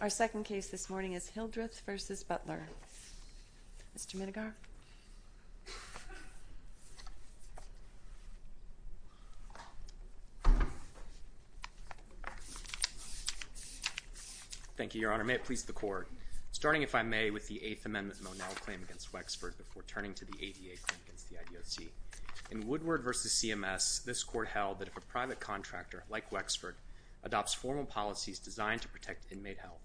Our second case this morning is Hildreth v. Butler. Mr. Menegar. Thank you, Your Honor. May it please the Court. Starting, if I may, with the Eighth Amendment Monell claim against Wexford before turning to the ADA claim against the IDOC. In Woodward v. CMS, this Court held that if a private contractor, like Wexford, adopts formal policies designed to protect inmate health,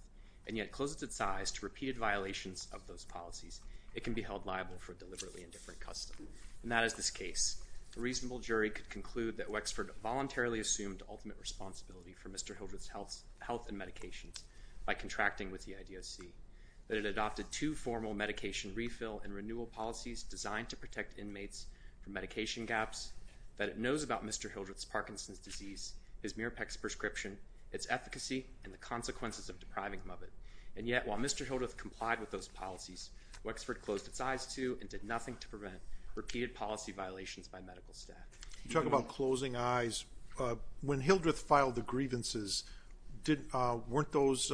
and yet closes its eyes to repeated violations of those policies, it can be held liable for deliberately indifferent custom. And that is this case. A reasonable jury could conclude that Wexford voluntarily assumed ultimate responsibility for Mr. Hildreth's health and medications by contracting with the IDOC, that it adopted two formal medication refill and renewal policies designed to protect inmates from medication gaps, that it knows about Mr. Hildreth's Parkinson's disease, his Mirapex prescription, its efficacy, and the consequences of depriving him of it. And yet, while Mr. Hildreth complied with those policies, Wexford closed its eyes to and did nothing to prevent repeated policy violations by medical staff. You talk about closing eyes. When Hildreth filed the grievances, weren't those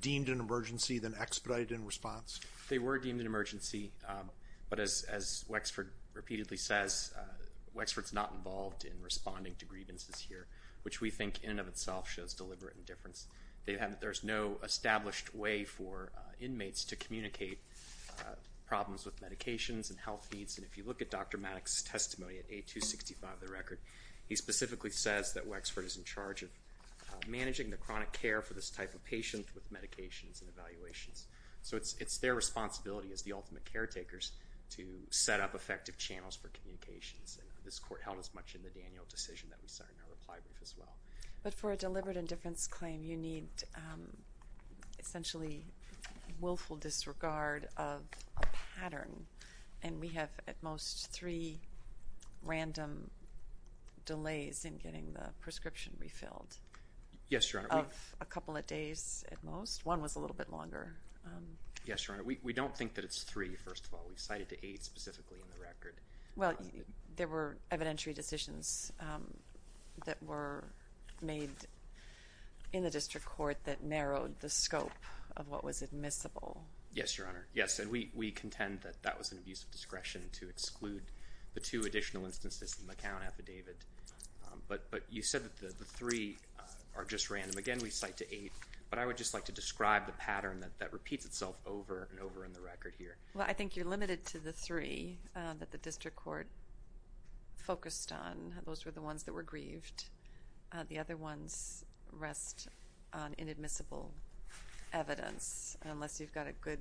deemed an emergency, then expedited in response? They were deemed an emergency, but as Wexford repeatedly says, Wexford's not involved in responding to grievances here, which we think in and of itself shows deliberate indifference. There's no established way for inmates to communicate problems with medications and health needs. And if you look at Dr. Maddox's testimony at A265 of the record, he specifically says that Wexford is in charge of managing the chronic care for this type of patient with medications and evaluations. So it's their responsibility as the ultimate caretakers to set up effective channels for communications. And this court held as much in the Daniel decision that we saw in our reply brief as well. But for a deliberate indifference claim, you need essentially willful disregard of a pattern. And we have at most three random delays in getting the prescription refilled. Yes, Your Honor. Of a couple of days at most. One was a little bit longer. Yes, Your Honor. We don't think that it's three, first of all. We cited eight specifically in the record. Well, there were evidentiary decisions that were made in the district court that narrowed the scope of what was admissible. Yes, Your Honor. Yes, and we contend that that was an abuse of discretion to exclude the two additional instances in the McCown affidavit. But you said that the three are just random. Again, we cite to eight. But I would just like to describe the pattern that repeats itself over and over in the record here. Well, I think you're limited to the three that the district court focused on. Those were the ones that were grieved. The other ones rest on inadmissible evidence, unless you've got a good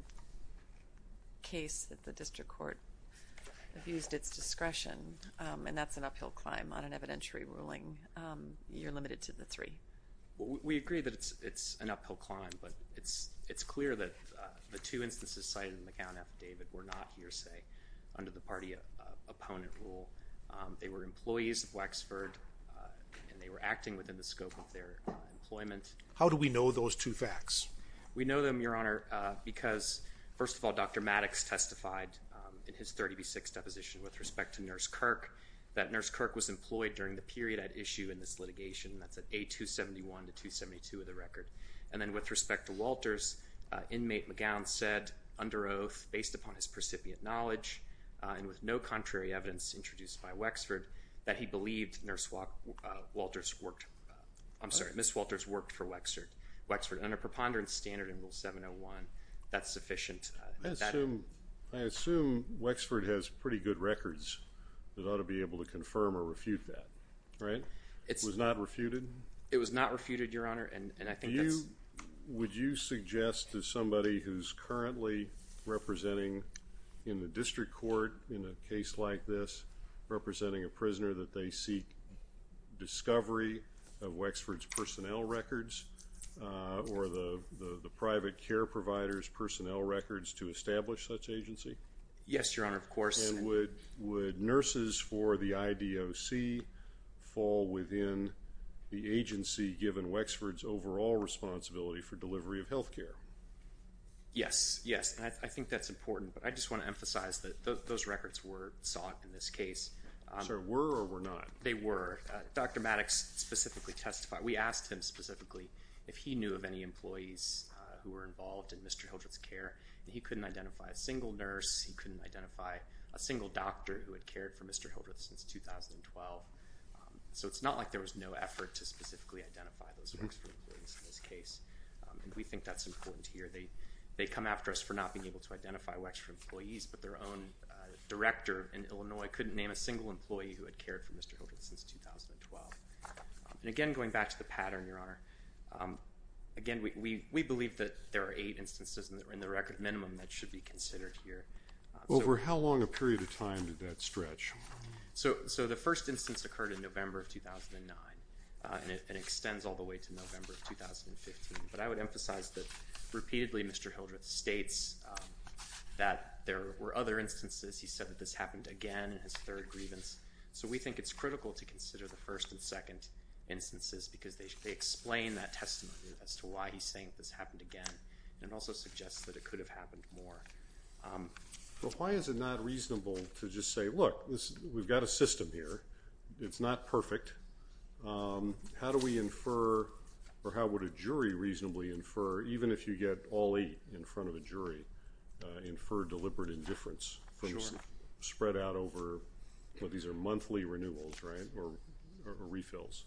case that the district court abused its discretion, and that's an uphill climb on an evidentiary ruling. You're limited to the three. We agree that it's an uphill climb, but it's clear that the two instances cited in the McCown affidavit were not hearsay under the party opponent rule. They were employees of Wexford, and they were acting within the scope of their employment. How do we know those two facts? We know them, Your Honor, because first of all, Dr. Maddox testified in his 30B6 deposition with respect to Nurse Kirk, that Nurse Kirk was employed during the period at issue in this litigation. That's at A271 to 272 of the record. And then with respect to Walters, inmate McCown said, under oath, based upon his precipient knowledge, and with no contrary evidence introduced by Wexford, that he believed Nurse Walters worked, I'm sorry, Miss Walters worked for Wexford, and under preponderance standard in Rule 701, that's sufficient. I assume Wexford has pretty good records that ought to be able to confirm or refute that, right? It was not refuted? It was not refuted, Your Honor, and I think that's... Would you suggest to somebody who's currently representing in the district court in a case like this, representing a prisoner that they seek discovery of Wexford's personnel records or the private care provider's personnel records to establish such agency? Yes. And would nurses for the IDOC fall within the agency given Wexford's overall responsibility for delivery of health care? Yes. Yes. And I think that's important, but I just want to emphasize that those records were sought in this case. Sorry, were or were not? They were. Dr. Maddox specifically testified. We asked him specifically if he knew of any employees who were involved in Mr. Hildreth's care. He couldn't identify a single nurse. He couldn't identify a single doctor who had cared for Mr. Hildreth since 2012. So it's not like there was no effort to specifically identify those Wexford employees in this case. We think that's important here. They come after us for not being able to identify Wexford employees, but their own director in Illinois couldn't name a single employee who had cared for Mr. Hildreth since 2012. And again, going back to the pattern, Your Honor, again, we believe that there are eight instances in the record, minimum, that should be considered here. Over how long a period of time did that stretch? So the first instance occurred in November of 2009, and it extends all the way to November of 2015. But I would emphasize that, repeatedly, Mr. Hildreth states that there were other instances. He said that this happened again in his third grievance. So we think it's critical to consider the first and second instances because they explain that testimony as to why he's saying this happened again. And it also suggests that it could have happened more. So why is it not reasonable to just say, look, we've got a system here. It's not perfect. How do we infer, or how would a jury reasonably infer, even if you get all eight in front of a jury, infer deliberate indifference from spread out over, these are monthly renewals, right, or refills,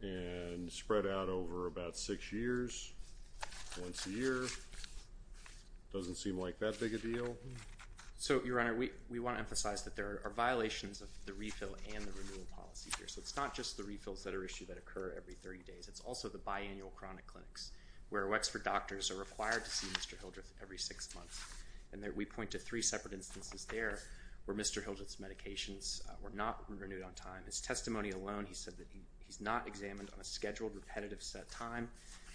and spread out over about six years, once a year, doesn't seem like that big a deal. So Your Honor, we want to emphasize that there are violations of the refill and the renewal policy here. So it's not just the refills that are issued that occur every 30 days. It's also the biannual chronic clinics where Wexford doctors are required to see Mr. Hildreth every six months. And we point to three separate instances there where Mr. Hildreth's medications were not renewed. In his testimony alone, he said that he's not examined on a scheduled, repetitive set time,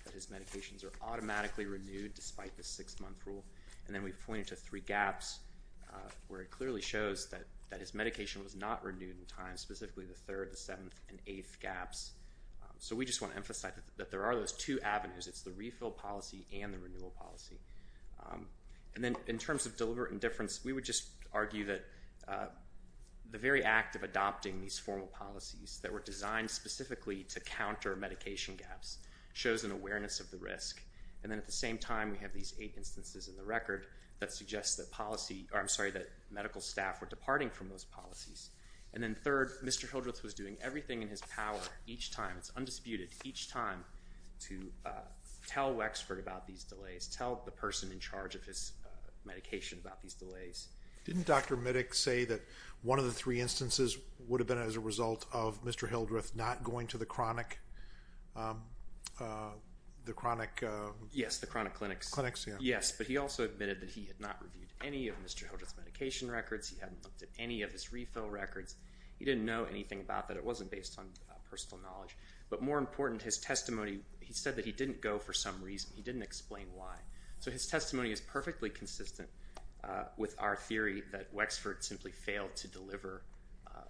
that his medications are automatically renewed despite the six-month rule. And then we point to three gaps where it clearly shows that his medication was not renewed in time, specifically the third, the seventh, and eighth gaps. So we just want to emphasize that there are those two avenues. It's the refill policy and the renewal policy. And then in terms of deliberate indifference, we would just argue that the very act of adopting these formal policies that were designed specifically to counter medication gaps shows an awareness of the risk. And then at the same time, we have these eight instances in the record that suggests that policy, or I'm sorry, that medical staff were departing from those policies. And then third, Mr. Hildreth was doing everything in his power each time, it's undisputed, each time to tell Wexford about these delays, tell the person in charge of his medication about these delays. Didn't Dr. Middick say that one of the three instances would have been as a result of Mr. Hildreth not going to the chronic, the chronic? Yes, the chronic clinics. Clinics, yeah. Yes, but he also admitted that he had not reviewed any of Mr. Hildreth's medication records. He hadn't looked at any of his refill records. He didn't know anything about that. It wasn't based on personal knowledge. But more important, his testimony, he said that he didn't go for some reason. He didn't explain why. So his testimony is perfectly consistent with our theory that Wexford simply failed to deliver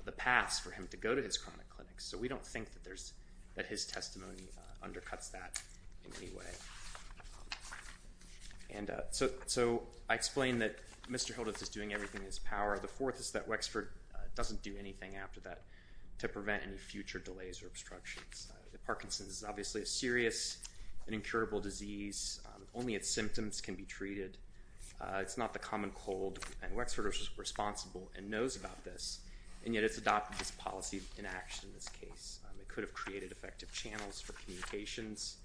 the pass for him to go to his chronic clinics. So we don't think that there's, that his testimony undercuts that in any way. And so I explained that Mr. Hildreth is doing everything in his power. The fourth is that Wexford doesn't do anything after that to prevent any future delays or obstructions. Parkinson's is obviously a serious and incurable disease. Only its symptoms can be treated. It's not the common cold. And Wexford is responsible and knows about this, and yet it's adopted this policy in action in this case. It could have created effective channels for communications.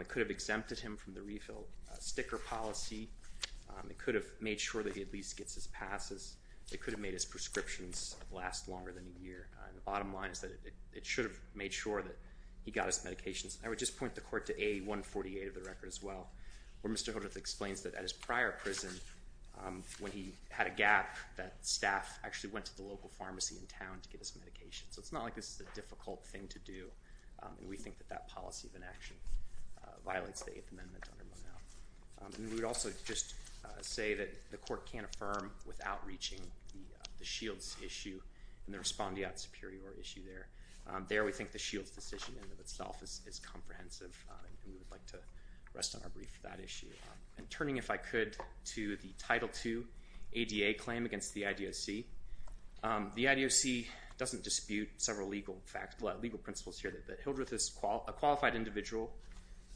It could have exempted him from the refill sticker policy. It could have made sure that he at least gets his passes. It could have made his prescriptions last longer than a year. The bottom line is that it should have made sure that he got his medications. I would just point the court to A148 of the record as well, where Mr. Hildreth explains that at his prior prison, when he had a gap, that staff actually went to the local pharmacy in town to get his medication. So it's not like this is a difficult thing to do. We think that that policy of inaction violates the Eighth Amendment under Monmouth. And we would also just say that the court can't affirm without reaching the shields issue and the respondeat superior issue there. There we think the shields decision in and of itself is comprehensive, and we would like to rest on our brief for that issue. And turning, if I could, to the Title II ADA claim against the IDOC. The IDOC doesn't dispute several legal principles here, that Hildreth is a qualified individual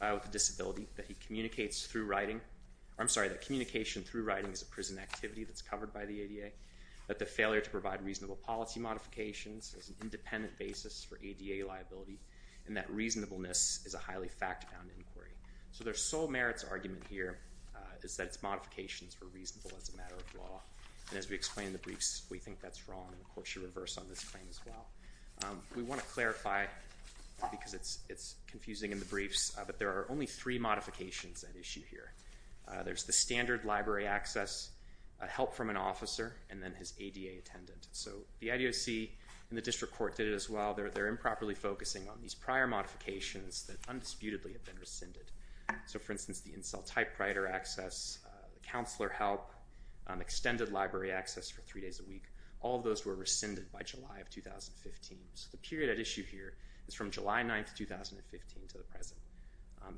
with a disability, that he communicates through writing—I'm sorry, that communication through writing can provide reasonable policy modifications as an independent basis for ADA liability, and that reasonableness is a highly fact-bound inquiry. So their sole merits argument here is that its modifications were reasonable as a matter of law. And as we explain in the briefs, we think that's wrong, and the court should reverse on this claim as well. We want to clarify, because it's confusing in the briefs, that there are only three modifications at issue here. There's the standard library access, help from an officer, and then his ADA attendant. So the IDOC and the district court did it as well, they're improperly focusing on these prior modifications that undisputedly have been rescinded. So for instance, the in-cell typewriter access, the counselor help, extended library access for three days a week, all of those were rescinded by July of 2015, so the period at issue here is from July 9th, 2015 to the present.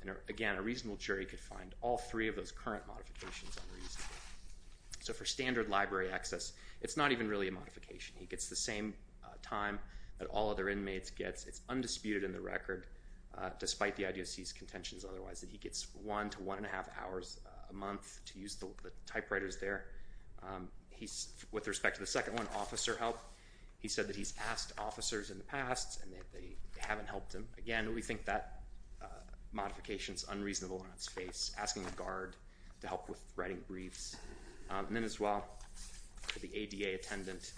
And again, a reasonable jury could find all three of those current modifications unreasonable. So for standard library access, it's not even really a modification. He gets the same time that all other inmates get. It's undisputed in the record, despite the IDOC's contentions otherwise, that he gets one to one and a half hours a month to use the typewriters there. With respect to the second one, officer help, he said that he's asked officers in the past, and they haven't helped him. Again, we think that modification's unreasonable on its face, asking a guard to help with writing briefs. And then as well, the ADA attendant,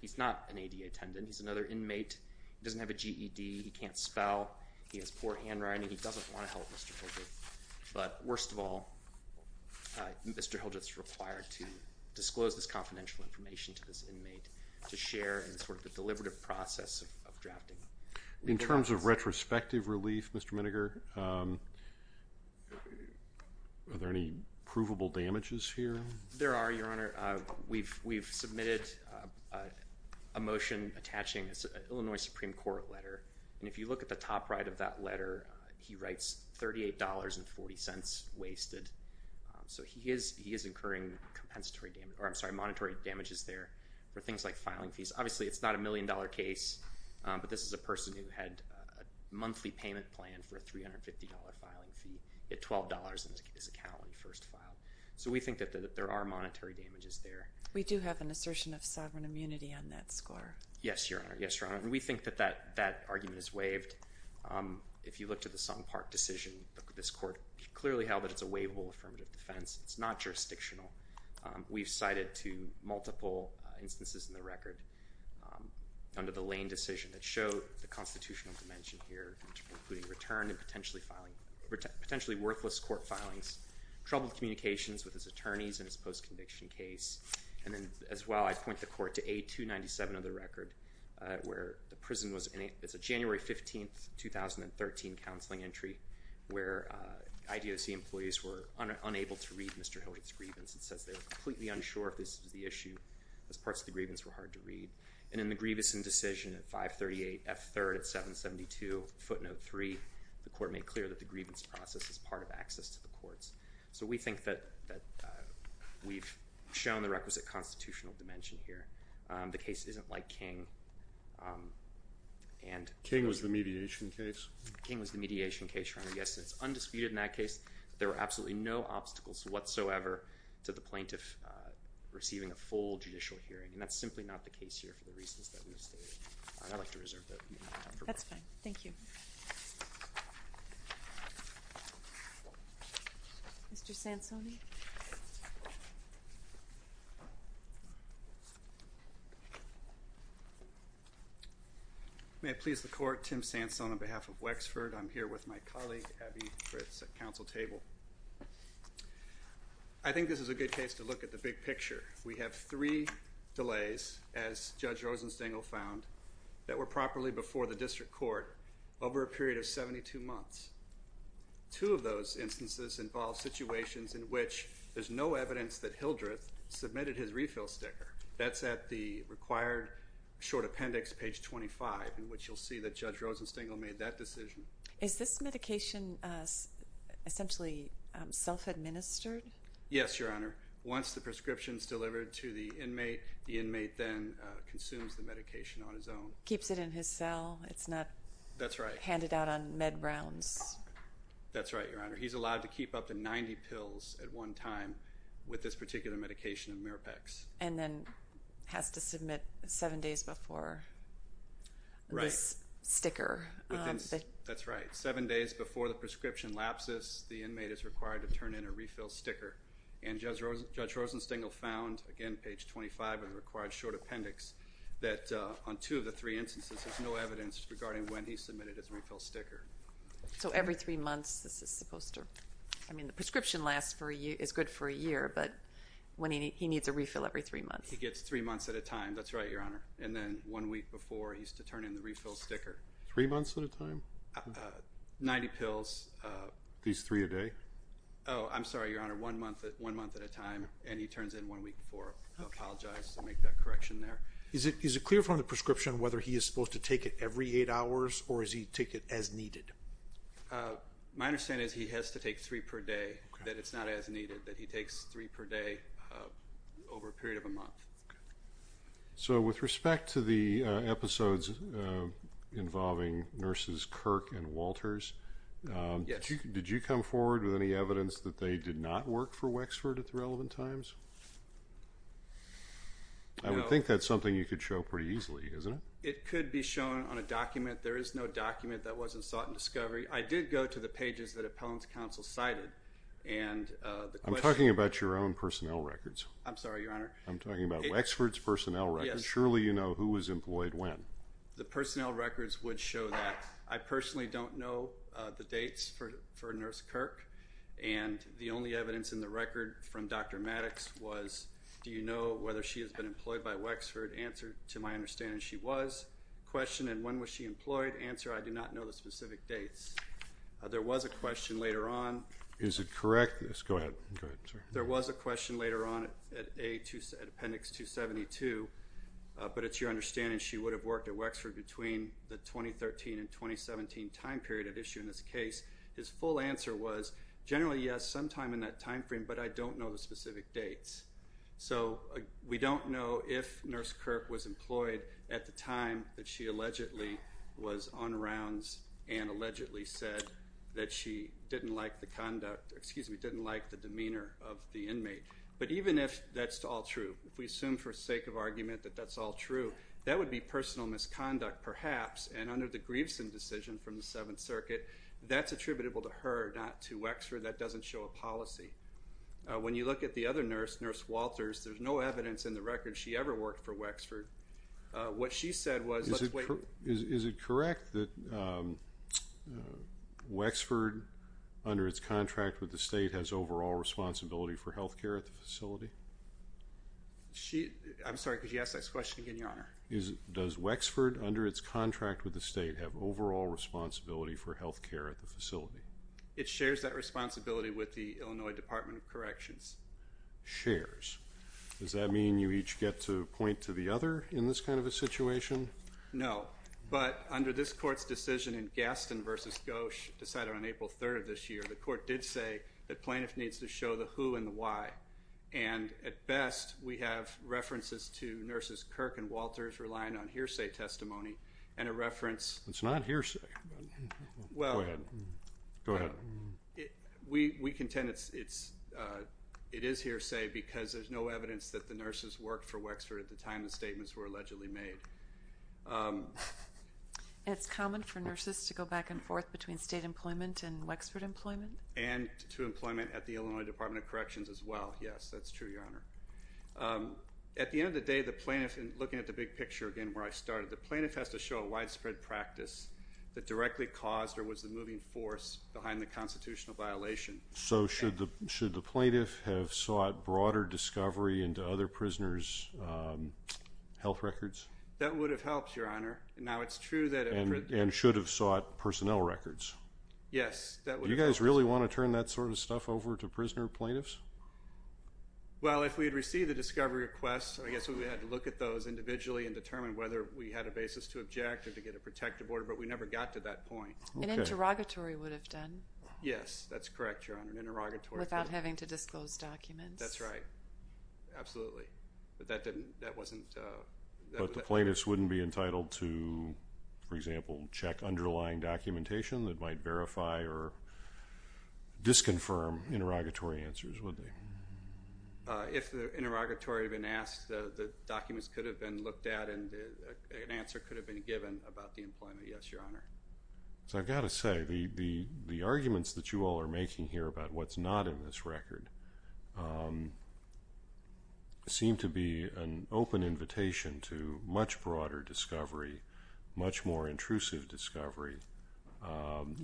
he's not an ADA attendant, he's another inmate. He doesn't have a GED, he can't spell, he has poor handwriting, he doesn't want to help Mr. Hildreth. But worst of all, Mr. Hildreth's required to disclose this confidential information to this inmate to share in sort of the deliberative process of drafting. In terms of retrospective relief, Mr. Miniger, are there any provable damages here? There are, Your Honor. We've submitted a motion attaching an Illinois Supreme Court letter, and if you look at the top right of that letter, he writes $38.40 wasted. So he is incurring monetary damages there for things like filing fees. Obviously, it's not a million-dollar case, but this is a person who had a monthly payment plan for a $350 filing fee at $12 in his account when he first filed. So we think that there are monetary damages there. We do have an assertion of sovereign immunity on that score. Yes, Your Honor. And we think that that argument is waived. If you look to the Song Park decision, this court clearly held that it's a waivable affirmative defense. It's not jurisdictional. We've cited two multiple instances in the record under the Lane decision that show the constitutional dimension here, including returned and potentially worthless court filings, troubled communications with his attorneys in his post-conviction case. And then, as well, I point the court to A297 of the record, where the prison was in a—it's a January 15, 2013, counseling entry where IDOC employees were unable to read Mr. Hilliard's grievance. It says they were completely unsure if this was the issue, as parts of the grievance were hard to read. And in the Grievison decision at 538 F. 3rd at 772 footnote 3, the court made clear that the grievance process is part of access to the courts. So we think that we've shown the requisite constitutional dimension here. The case isn't like King and— King was the mediation case? King was the mediation case, Your Honor, yes, and it's undisputed in that case that there were absolutely no obstacles whatsoever to the plaintiff receiving a full judicial hearing. And that's simply not the case here for the reasons that we've stated. I'd like to reserve that time for questions. That's fine. Thank you. Mr. Sansoni? May it please the Court, Tim Sanson on behalf of Wexford. I'm here with my colleague, Abby Fritz, at counsel table. I think this is a good case to look at the big picture. We have three delays, as Judge Rosenstengel found, that were properly before the district court over a period of 72 months. Two of those instances involve situations in which there's no evidence that Hildreth submitted his refill sticker. That's at the required short appendix, page 25, in which you'll see that Judge Rosenstengel made that decision. Is this medication essentially self-administered? Yes, Your Honor. Once the prescription is delivered to the inmate, the inmate then consumes the medication on his own. Keeps it in his cell? It's not— That's right. Handed out on med rounds? That's right, Your Honor. He's allowed to keep up to 90 pills at one time with this particular medication of Mirapex. And then has to submit seven days before this sticker. Right. That's right. Seven days before the prescription lapses, the inmate is required to turn in a refill sticker. And Judge Rosenstengel found, again, page 25 in the required short appendix, that on So, every three months, this is supposed to—I mean, the prescription is good for a year, but he needs a refill every three months. He gets three months at a time. That's right, Your Honor. And then, one week before, he's to turn in the refill sticker. Three months at a time? 90 pills. These three a day? Oh, I'm sorry, Your Honor. One month at a time. And he turns in one week before. I apologize to make that correction there. Is it clear from the prescription whether he is supposed to take it every eight hours or is he to take it as needed? My understanding is he has to take three per day, that it's not as needed, that he takes three per day over a period of a month. So with respect to the episodes involving nurses Kirk and Walters, did you come forward with any evidence that they did not work for Wexford at the relevant times? I would think that's something you could show pretty easily, isn't it? It could be shown on a document. There is no document that wasn't sought in discovery. I did go to the pages that Appellant's Counsel cited, and the question— I'm talking about your own personnel records. I'm sorry, Your Honor. I'm talking about Wexford's personnel records. Surely, you know who was employed when. The personnel records would show that. I personally don't know the dates for Nurse Kirk, and the only evidence in the record from Dr. Maddox was, do you know whether she has been employed by Wexford? Answer, to my understanding, she was. Question, and when was she employed? Answer, I do not know the specific dates. There was a question later on— Is it correct? Go ahead. Go ahead, sir. There was a question later on at Appendix 272, but it's your understanding she would have worked at Wexford between the 2013 and 2017 time period at issue in this case. His full answer was, generally, yes, sometime in that time frame, but I don't know the specific dates. So we don't know if Nurse Kirk was employed at the time that she allegedly was on rounds and allegedly said that she didn't like the conduct—excuse me, didn't like the demeanor of the inmate. But even if that's all true, if we assume for sake of argument that that's all true, that would be personal misconduct, perhaps, and under the Grieveson decision from the Seventh Circuit, that's attributable to her, not to Wexford. That doesn't show a policy. When you look at the other nurse, Nurse Walters, there's no evidence in the record she ever worked for Wexford. What she said was— Is it correct that Wexford, under its contract with the state, has overall responsibility for health care at the facility? I'm sorry, could you ask that question again, Your Honor? Does Wexford, under its contract with the state, have overall responsibility for health care at the facility? It shares that responsibility with the Illinois Department of Corrections. Shares. Does that mean you each get to point to the other in this kind of a situation? No. But under this Court's decision in Gaston v. Gosch, decided on April 3rd of this year, the Court did say that plaintiff needs to show the who and the why. And at best, we have references to Nurses Kirk and Walters relying on hearsay testimony and a reference— It's not hearsay. Go ahead. We contend it is hearsay because there's no evidence that the nurses worked for Wexford at the time the statements were allegedly made. It's common for nurses to go back and forth between state employment and Wexford employment? And to employment at the Illinois Department of Corrections as well, yes. That's true, Your Honor. At the end of the day, the plaintiff, and looking at the big picture again where I started, the plaintiff has to show a widespread practice that directly caused or was the moving force behind the constitutional violation. So should the plaintiff have sought broader discovery into other prisoners' health records? That would have helped, Your Honor. Now it's true that— And should have sought personnel records? Yes. Do you guys really want to turn that sort of stuff over to prisoner plaintiffs? Well, if we had received the discovery requests, I guess we would have had to look at those individually and determine whether we had a basis to object or to get a protective order, but we never got to that point. Okay. An interrogatory would have done. Yes, that's correct, Your Honor. An interrogatory— Without having to disclose documents. That's right. Absolutely. But that didn't—that wasn't— But the plaintiffs wouldn't be entitled to, for example, check underlying documentation that might verify or disconfirm interrogatory answers, would they? If the interrogatory had been asked, the documents could have been looked at and an answer could have been given about the employment, yes, Your Honor. So I've got to say, the arguments that you all are making here about what's not in this record seem to be an open invitation to much broader discovery, much more intrusive discovery,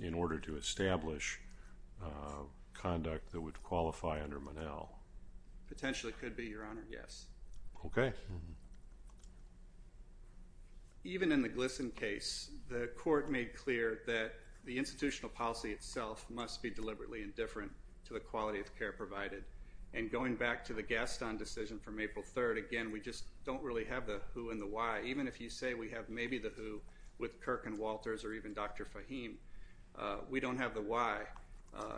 in order to establish conduct that would qualify under Monell. Potentially could be, Your Honor, yes. Okay. Even in the Glisson case, the court made clear that the institutional policy itself must be deliberately indifferent to the quality of care provided, and going back to the Gaston decision from April 3rd, again, we just don't really have the who and the why. Even if you say we have maybe the who with Kirk and Walters or even Dr. Fahim, we don't have the why.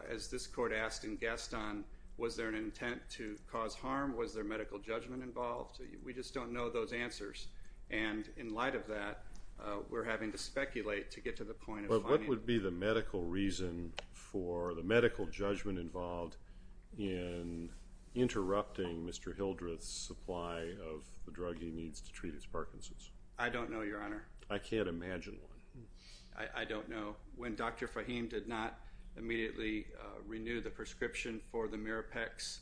As this court asked in Gaston, was there an intent to cause harm? Was there medical judgment involved? We just don't know those answers, and in light of that, we're having to speculate to get to the point of finding— But what would be the medical reason for the medical judgment involved in interrupting Mr. Hildreth's supply of the drug he needs to treat his Parkinson's? I don't know, Your Honor. I can't imagine one. I don't know. When Dr. Fahim did not immediately renew the prescription for the Mirapex,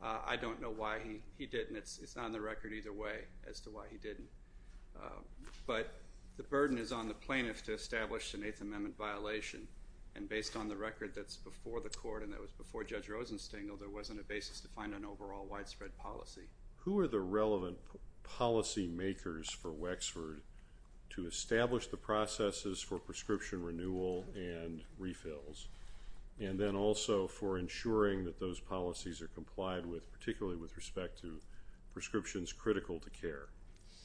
I don't know why he didn't. It's not on the record either way as to why he didn't. But the burden is on the plaintiff to establish an Eighth Amendment violation, and based on the record that's before the court and that was before Judge Rosenstengel, there wasn't a basis to find an overall widespread policy. Who are the relevant policy makers for Wexford to establish the processes for prescription renewal and refills, and then also for ensuring that those policies are complied with, particularly with respect to prescriptions critical to care?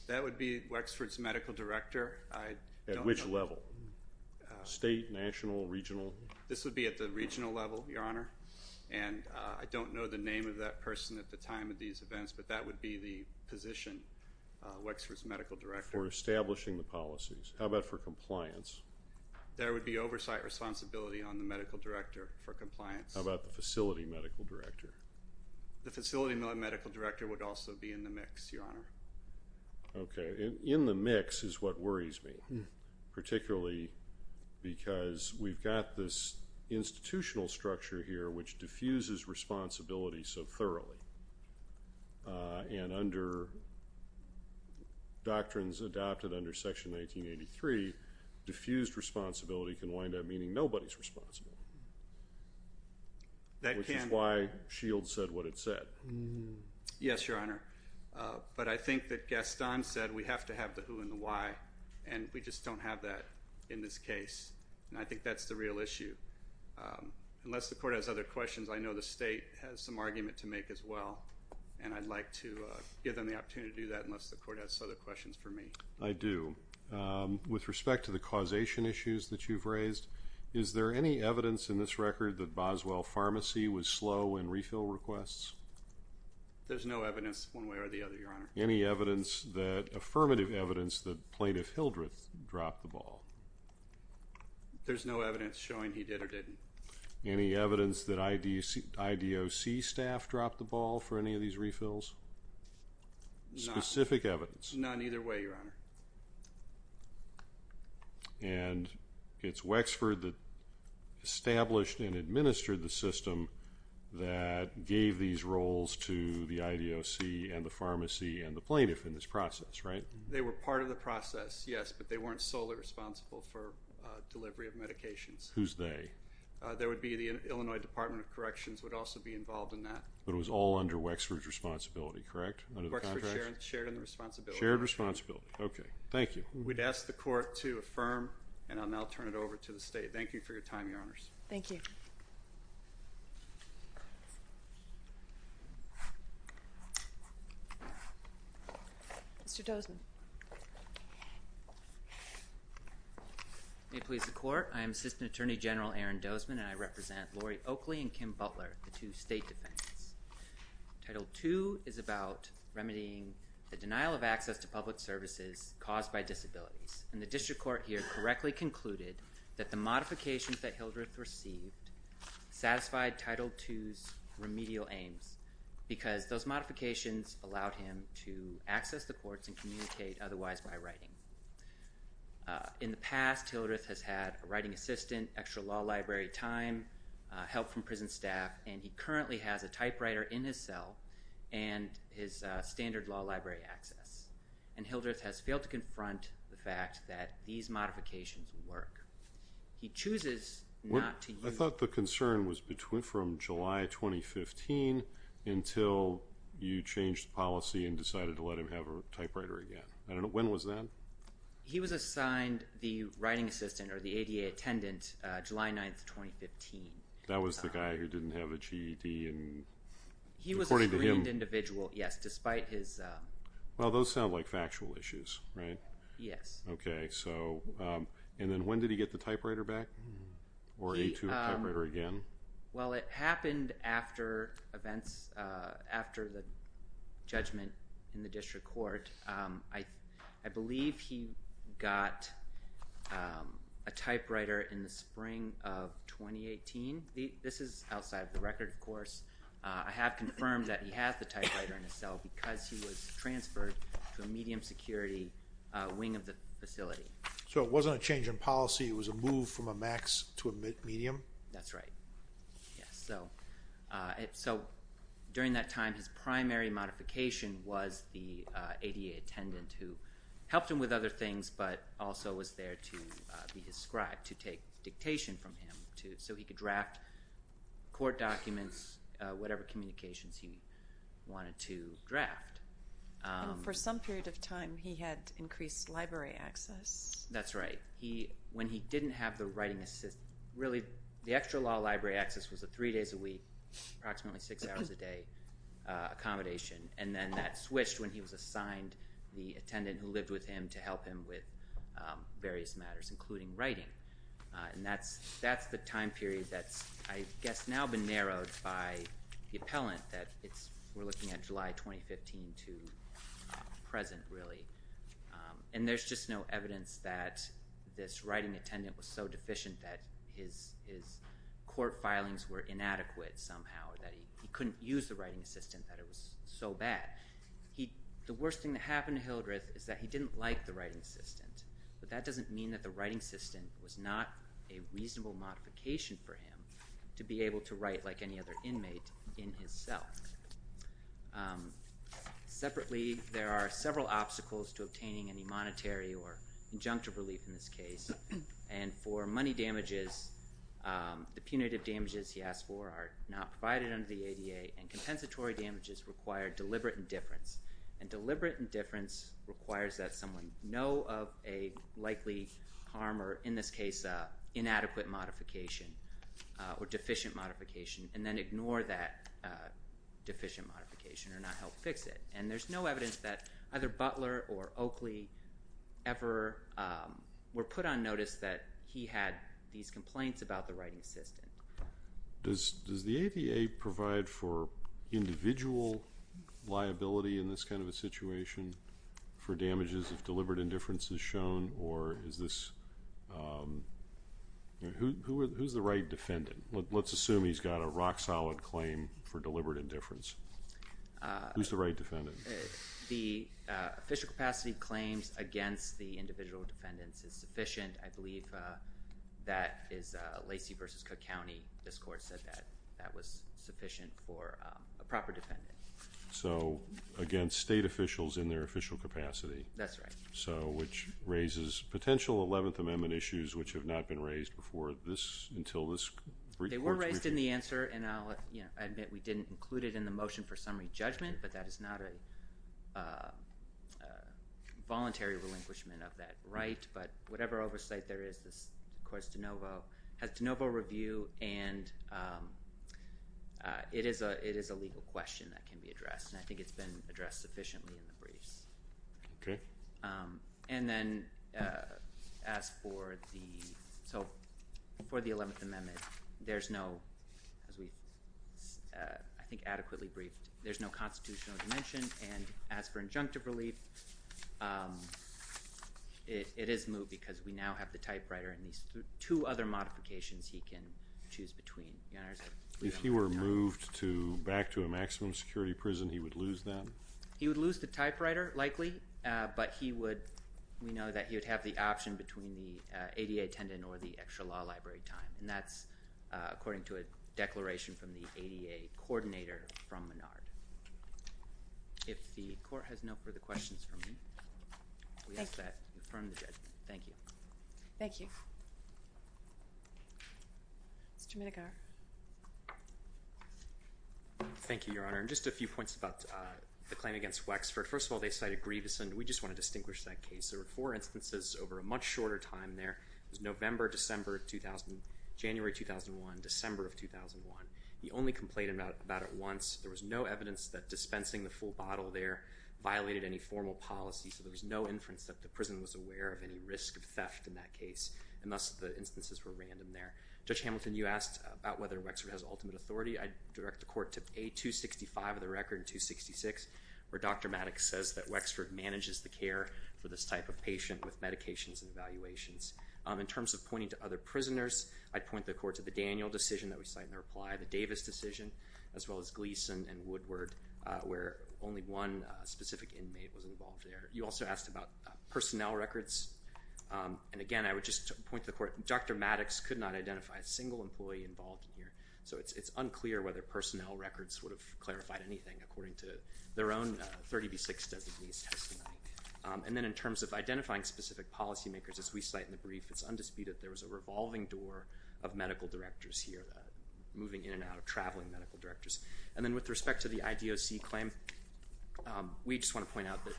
That would be Wexford's medical director. At which level? State, national, regional? This would be at the regional level, Your Honor, and I don't know the name of that person at the time of these events, but that would be the position, Wexford's medical director. For establishing the policies. How about for compliance? There would be oversight responsibility on the medical director for compliance. How about the facility medical director? The facility medical director would also be in the mix, Your Honor. Okay, in the mix is what worries me, particularly because we've got this institutional structure here which diffuses responsibility so thoroughly, and under doctrines adopted under Section 1983, diffused responsibility can wind up meaning nobody's responsible, which is why Shields said what it said. Yes, Your Honor. But I think that Gaston said we have to have the who and the why, and we just don't have that in this case, and I think that's the real issue. Unless the court has other questions, I know the state has some argument to make as well, and I'd like to give them the opportunity to do that unless the court has other questions for me. I do. With respect to the causation issues that you've raised, is there any evidence in this record that Boswell Pharmacy was slow in refill requests? There's no evidence one way or the other, Your Honor. Any evidence that, affirmative evidence, that Plaintiff Hildreth dropped the ball? There's no evidence showing he did or didn't. Any evidence that IDOC staff dropped the ball for any of these refills? Specific evidence? None either way, Your Honor. And it's Wexford that established and administered the system that gave these roles to the IDOC and the pharmacy and the plaintiff in this process, right? They were part of the process, yes, but they weren't solely responsible for delivery of medications. Who's they? They would be the Illinois Department of Corrections would also be involved in that. But it was all under Wexford's responsibility, correct, under the contract? Wexford shared in the responsibility. Shared responsibility. Okay. Thank you. We'd ask the Court to affirm and I'll now turn it over to the State. Thank you for your time, Your Honors. Thank you. Mr. Dozman. May it please the Court, I am Assistant Attorney General Aaron Dozman and I represent Lori Oakley and Kim Butler, the two State Defendants. Title II is about remedying the denial of access to public services caused by disabilities. And the District Court here correctly concluded that the modifications that Hildreth received satisfied Title II's remedial aims because those modifications allowed him to access the courts and communicate otherwise by writing. In the past, Hildreth has had a writing assistant, extra law library time, help from prison staff, and he currently has a typewriter in his cell and his standard law library access. And Hildreth has failed to confront the fact that these modifications work. He chooses not to use... I thought the concern was from July 2015 until you changed the policy and decided to let him have a typewriter again. When was that? He was assigned the writing assistant or the ADA attendant July 9th, 2015. That was the guy who didn't have a GED and according to him... He was a screened individual, yes, despite his... Well, those sound like factual issues, right? Yes. Okay. So... And then when did he get the typewriter back? Or he took the typewriter again? Well it happened after events... After the judgment in the District Court, I believe he got a typewriter in the spring of 2018. This is outside of the record, of course. I have confirmed that he has the typewriter in his cell because he was transferred to a medium security wing of the facility. So it wasn't a change in policy, it was a move from a max to a medium? That's right. Yes. So during that time, his primary modification was the ADA attendant who helped him with writing. So he could draft court documents, whatever communications he wanted to draft. For some period of time, he had increased library access. That's right. When he didn't have the writing assistant, really the extra law library access was three days a week, approximately six hours a day accommodation. And then that switched when he was assigned the attendant who lived with him to help him with various matters, including writing. And that's the time period that's, I guess, now been narrowed by the appellant, that we're looking at July 2015 to present, really. And there's just no evidence that this writing attendant was so deficient that his court filings were inadequate somehow, that he couldn't use the writing assistant, that it was so The worst thing that happened to Hildreth is that he didn't like the writing assistant. But that doesn't mean that the writing assistant was not a reasonable modification for him to be able to write like any other inmate in his cell. Separately, there are several obstacles to obtaining any monetary or injunctive relief in this case. And for money damages, the punitive damages he asked for are not provided under the ADA and compensatory damages require deliberate indifference. And deliberate indifference requires that someone know of a likely harm or, in this case, inadequate modification or deficient modification, and then ignore that deficient modification or not help fix it. And there's no evidence that either Butler or Oakley ever were put on notice that he had these complaints about the writing assistant. Does the ADA provide for individual liability in this kind of a situation for damages if deliberate indifference is shown or is this, who's the right defendant? Let's assume he's got a rock solid claim for deliberate indifference. Who's the right defendant? The official capacity claims against the individual defendants is sufficient. I believe that is Lacey versus Cook County. This court said that that was sufficient for a proper defendant. So again, state officials in their official capacity. That's right. So, which raises potential Eleventh Amendment issues which have not been raised before this, until this brief court's briefing. They were raised in the answer and I'll, you know, I admit we didn't include it in the motion for summary judgment, but that is not a voluntary relinquishment of that right. But whatever oversight there is, this, of course, DeNovo has DeNovo review and it is a, it is a legal question that can be addressed and I think it's been addressed sufficiently in the briefs. Okay. And then as for the, so for the Eleventh Amendment, there's no, as we, I think adequately briefed, there's no constitutional dimension and as for injunctive relief, it is moved because we now have the typewriter and these two other modifications he can choose between. If he were moved to, back to a maximum security prison, he would lose that? He would lose the typewriter, likely, but he would, we know that he would have the option between the ADA attendant or the extra law library time and that's according to a declaration from the ADA coordinator from Menard. If the court has no further questions for me, we ask that in front of the judge. Thank you. Thank you. Mr. Menegar. Thank you, Your Honor, and just a few points about the claim against Wexford. First of all, they cited Grievous and we just want to distinguish that case. There were four instances over a much shorter time there, it was November, December 2000, January 2001, December of 2001. The only complaint about it once, there was no evidence that dispensing the full bottle there violated any formal policy, so there was no inference that the prison was aware of any risk of theft in that case and thus the instances were random there. Judge Hamilton, you asked about whether Wexford has ultimate authority. I direct the court to A265 of the record and 266 where Dr. Maddox says that Wexford manages the care for this type of patient with medications and evaluations. In terms of pointing to other prisoners, I'd point the court to the Daniel decision that we cite in the reply, the Davis decision, as well as Gleason and Woodward where only one specific inmate was involved there. You also asked about personnel records, and again, I would just point the court, Dr. Maddox could not identify a single employee involved here, so it's unclear whether personnel records would have clarified anything according to their own 30B6 designee's testimony. And then in terms of identifying specific policy makers, as we cite in the brief, it's undisputed there was a revolving door of medical directors here, moving in and out of traveling medical directors. And then with respect to the IDOC claim, we just want to point out that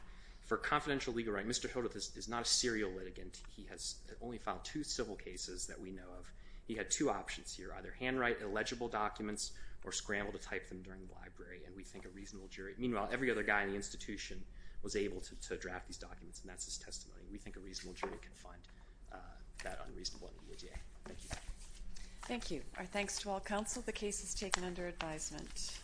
for confidential legal writing, Mr. Hildreth is not a serial litigant. He has only filed two civil cases that we know of. He had two options here, either handwrite illegible documents or scramble to type them during the library, and we think a reasonable jury. Meanwhile, every other guy in the institution was able to draft these documents, and that's his testimony. We think a reasonable jury can find that unreasonable in the EDA. Thank you. Thank you. Our thanks to all counsel. The case is taken under advisement.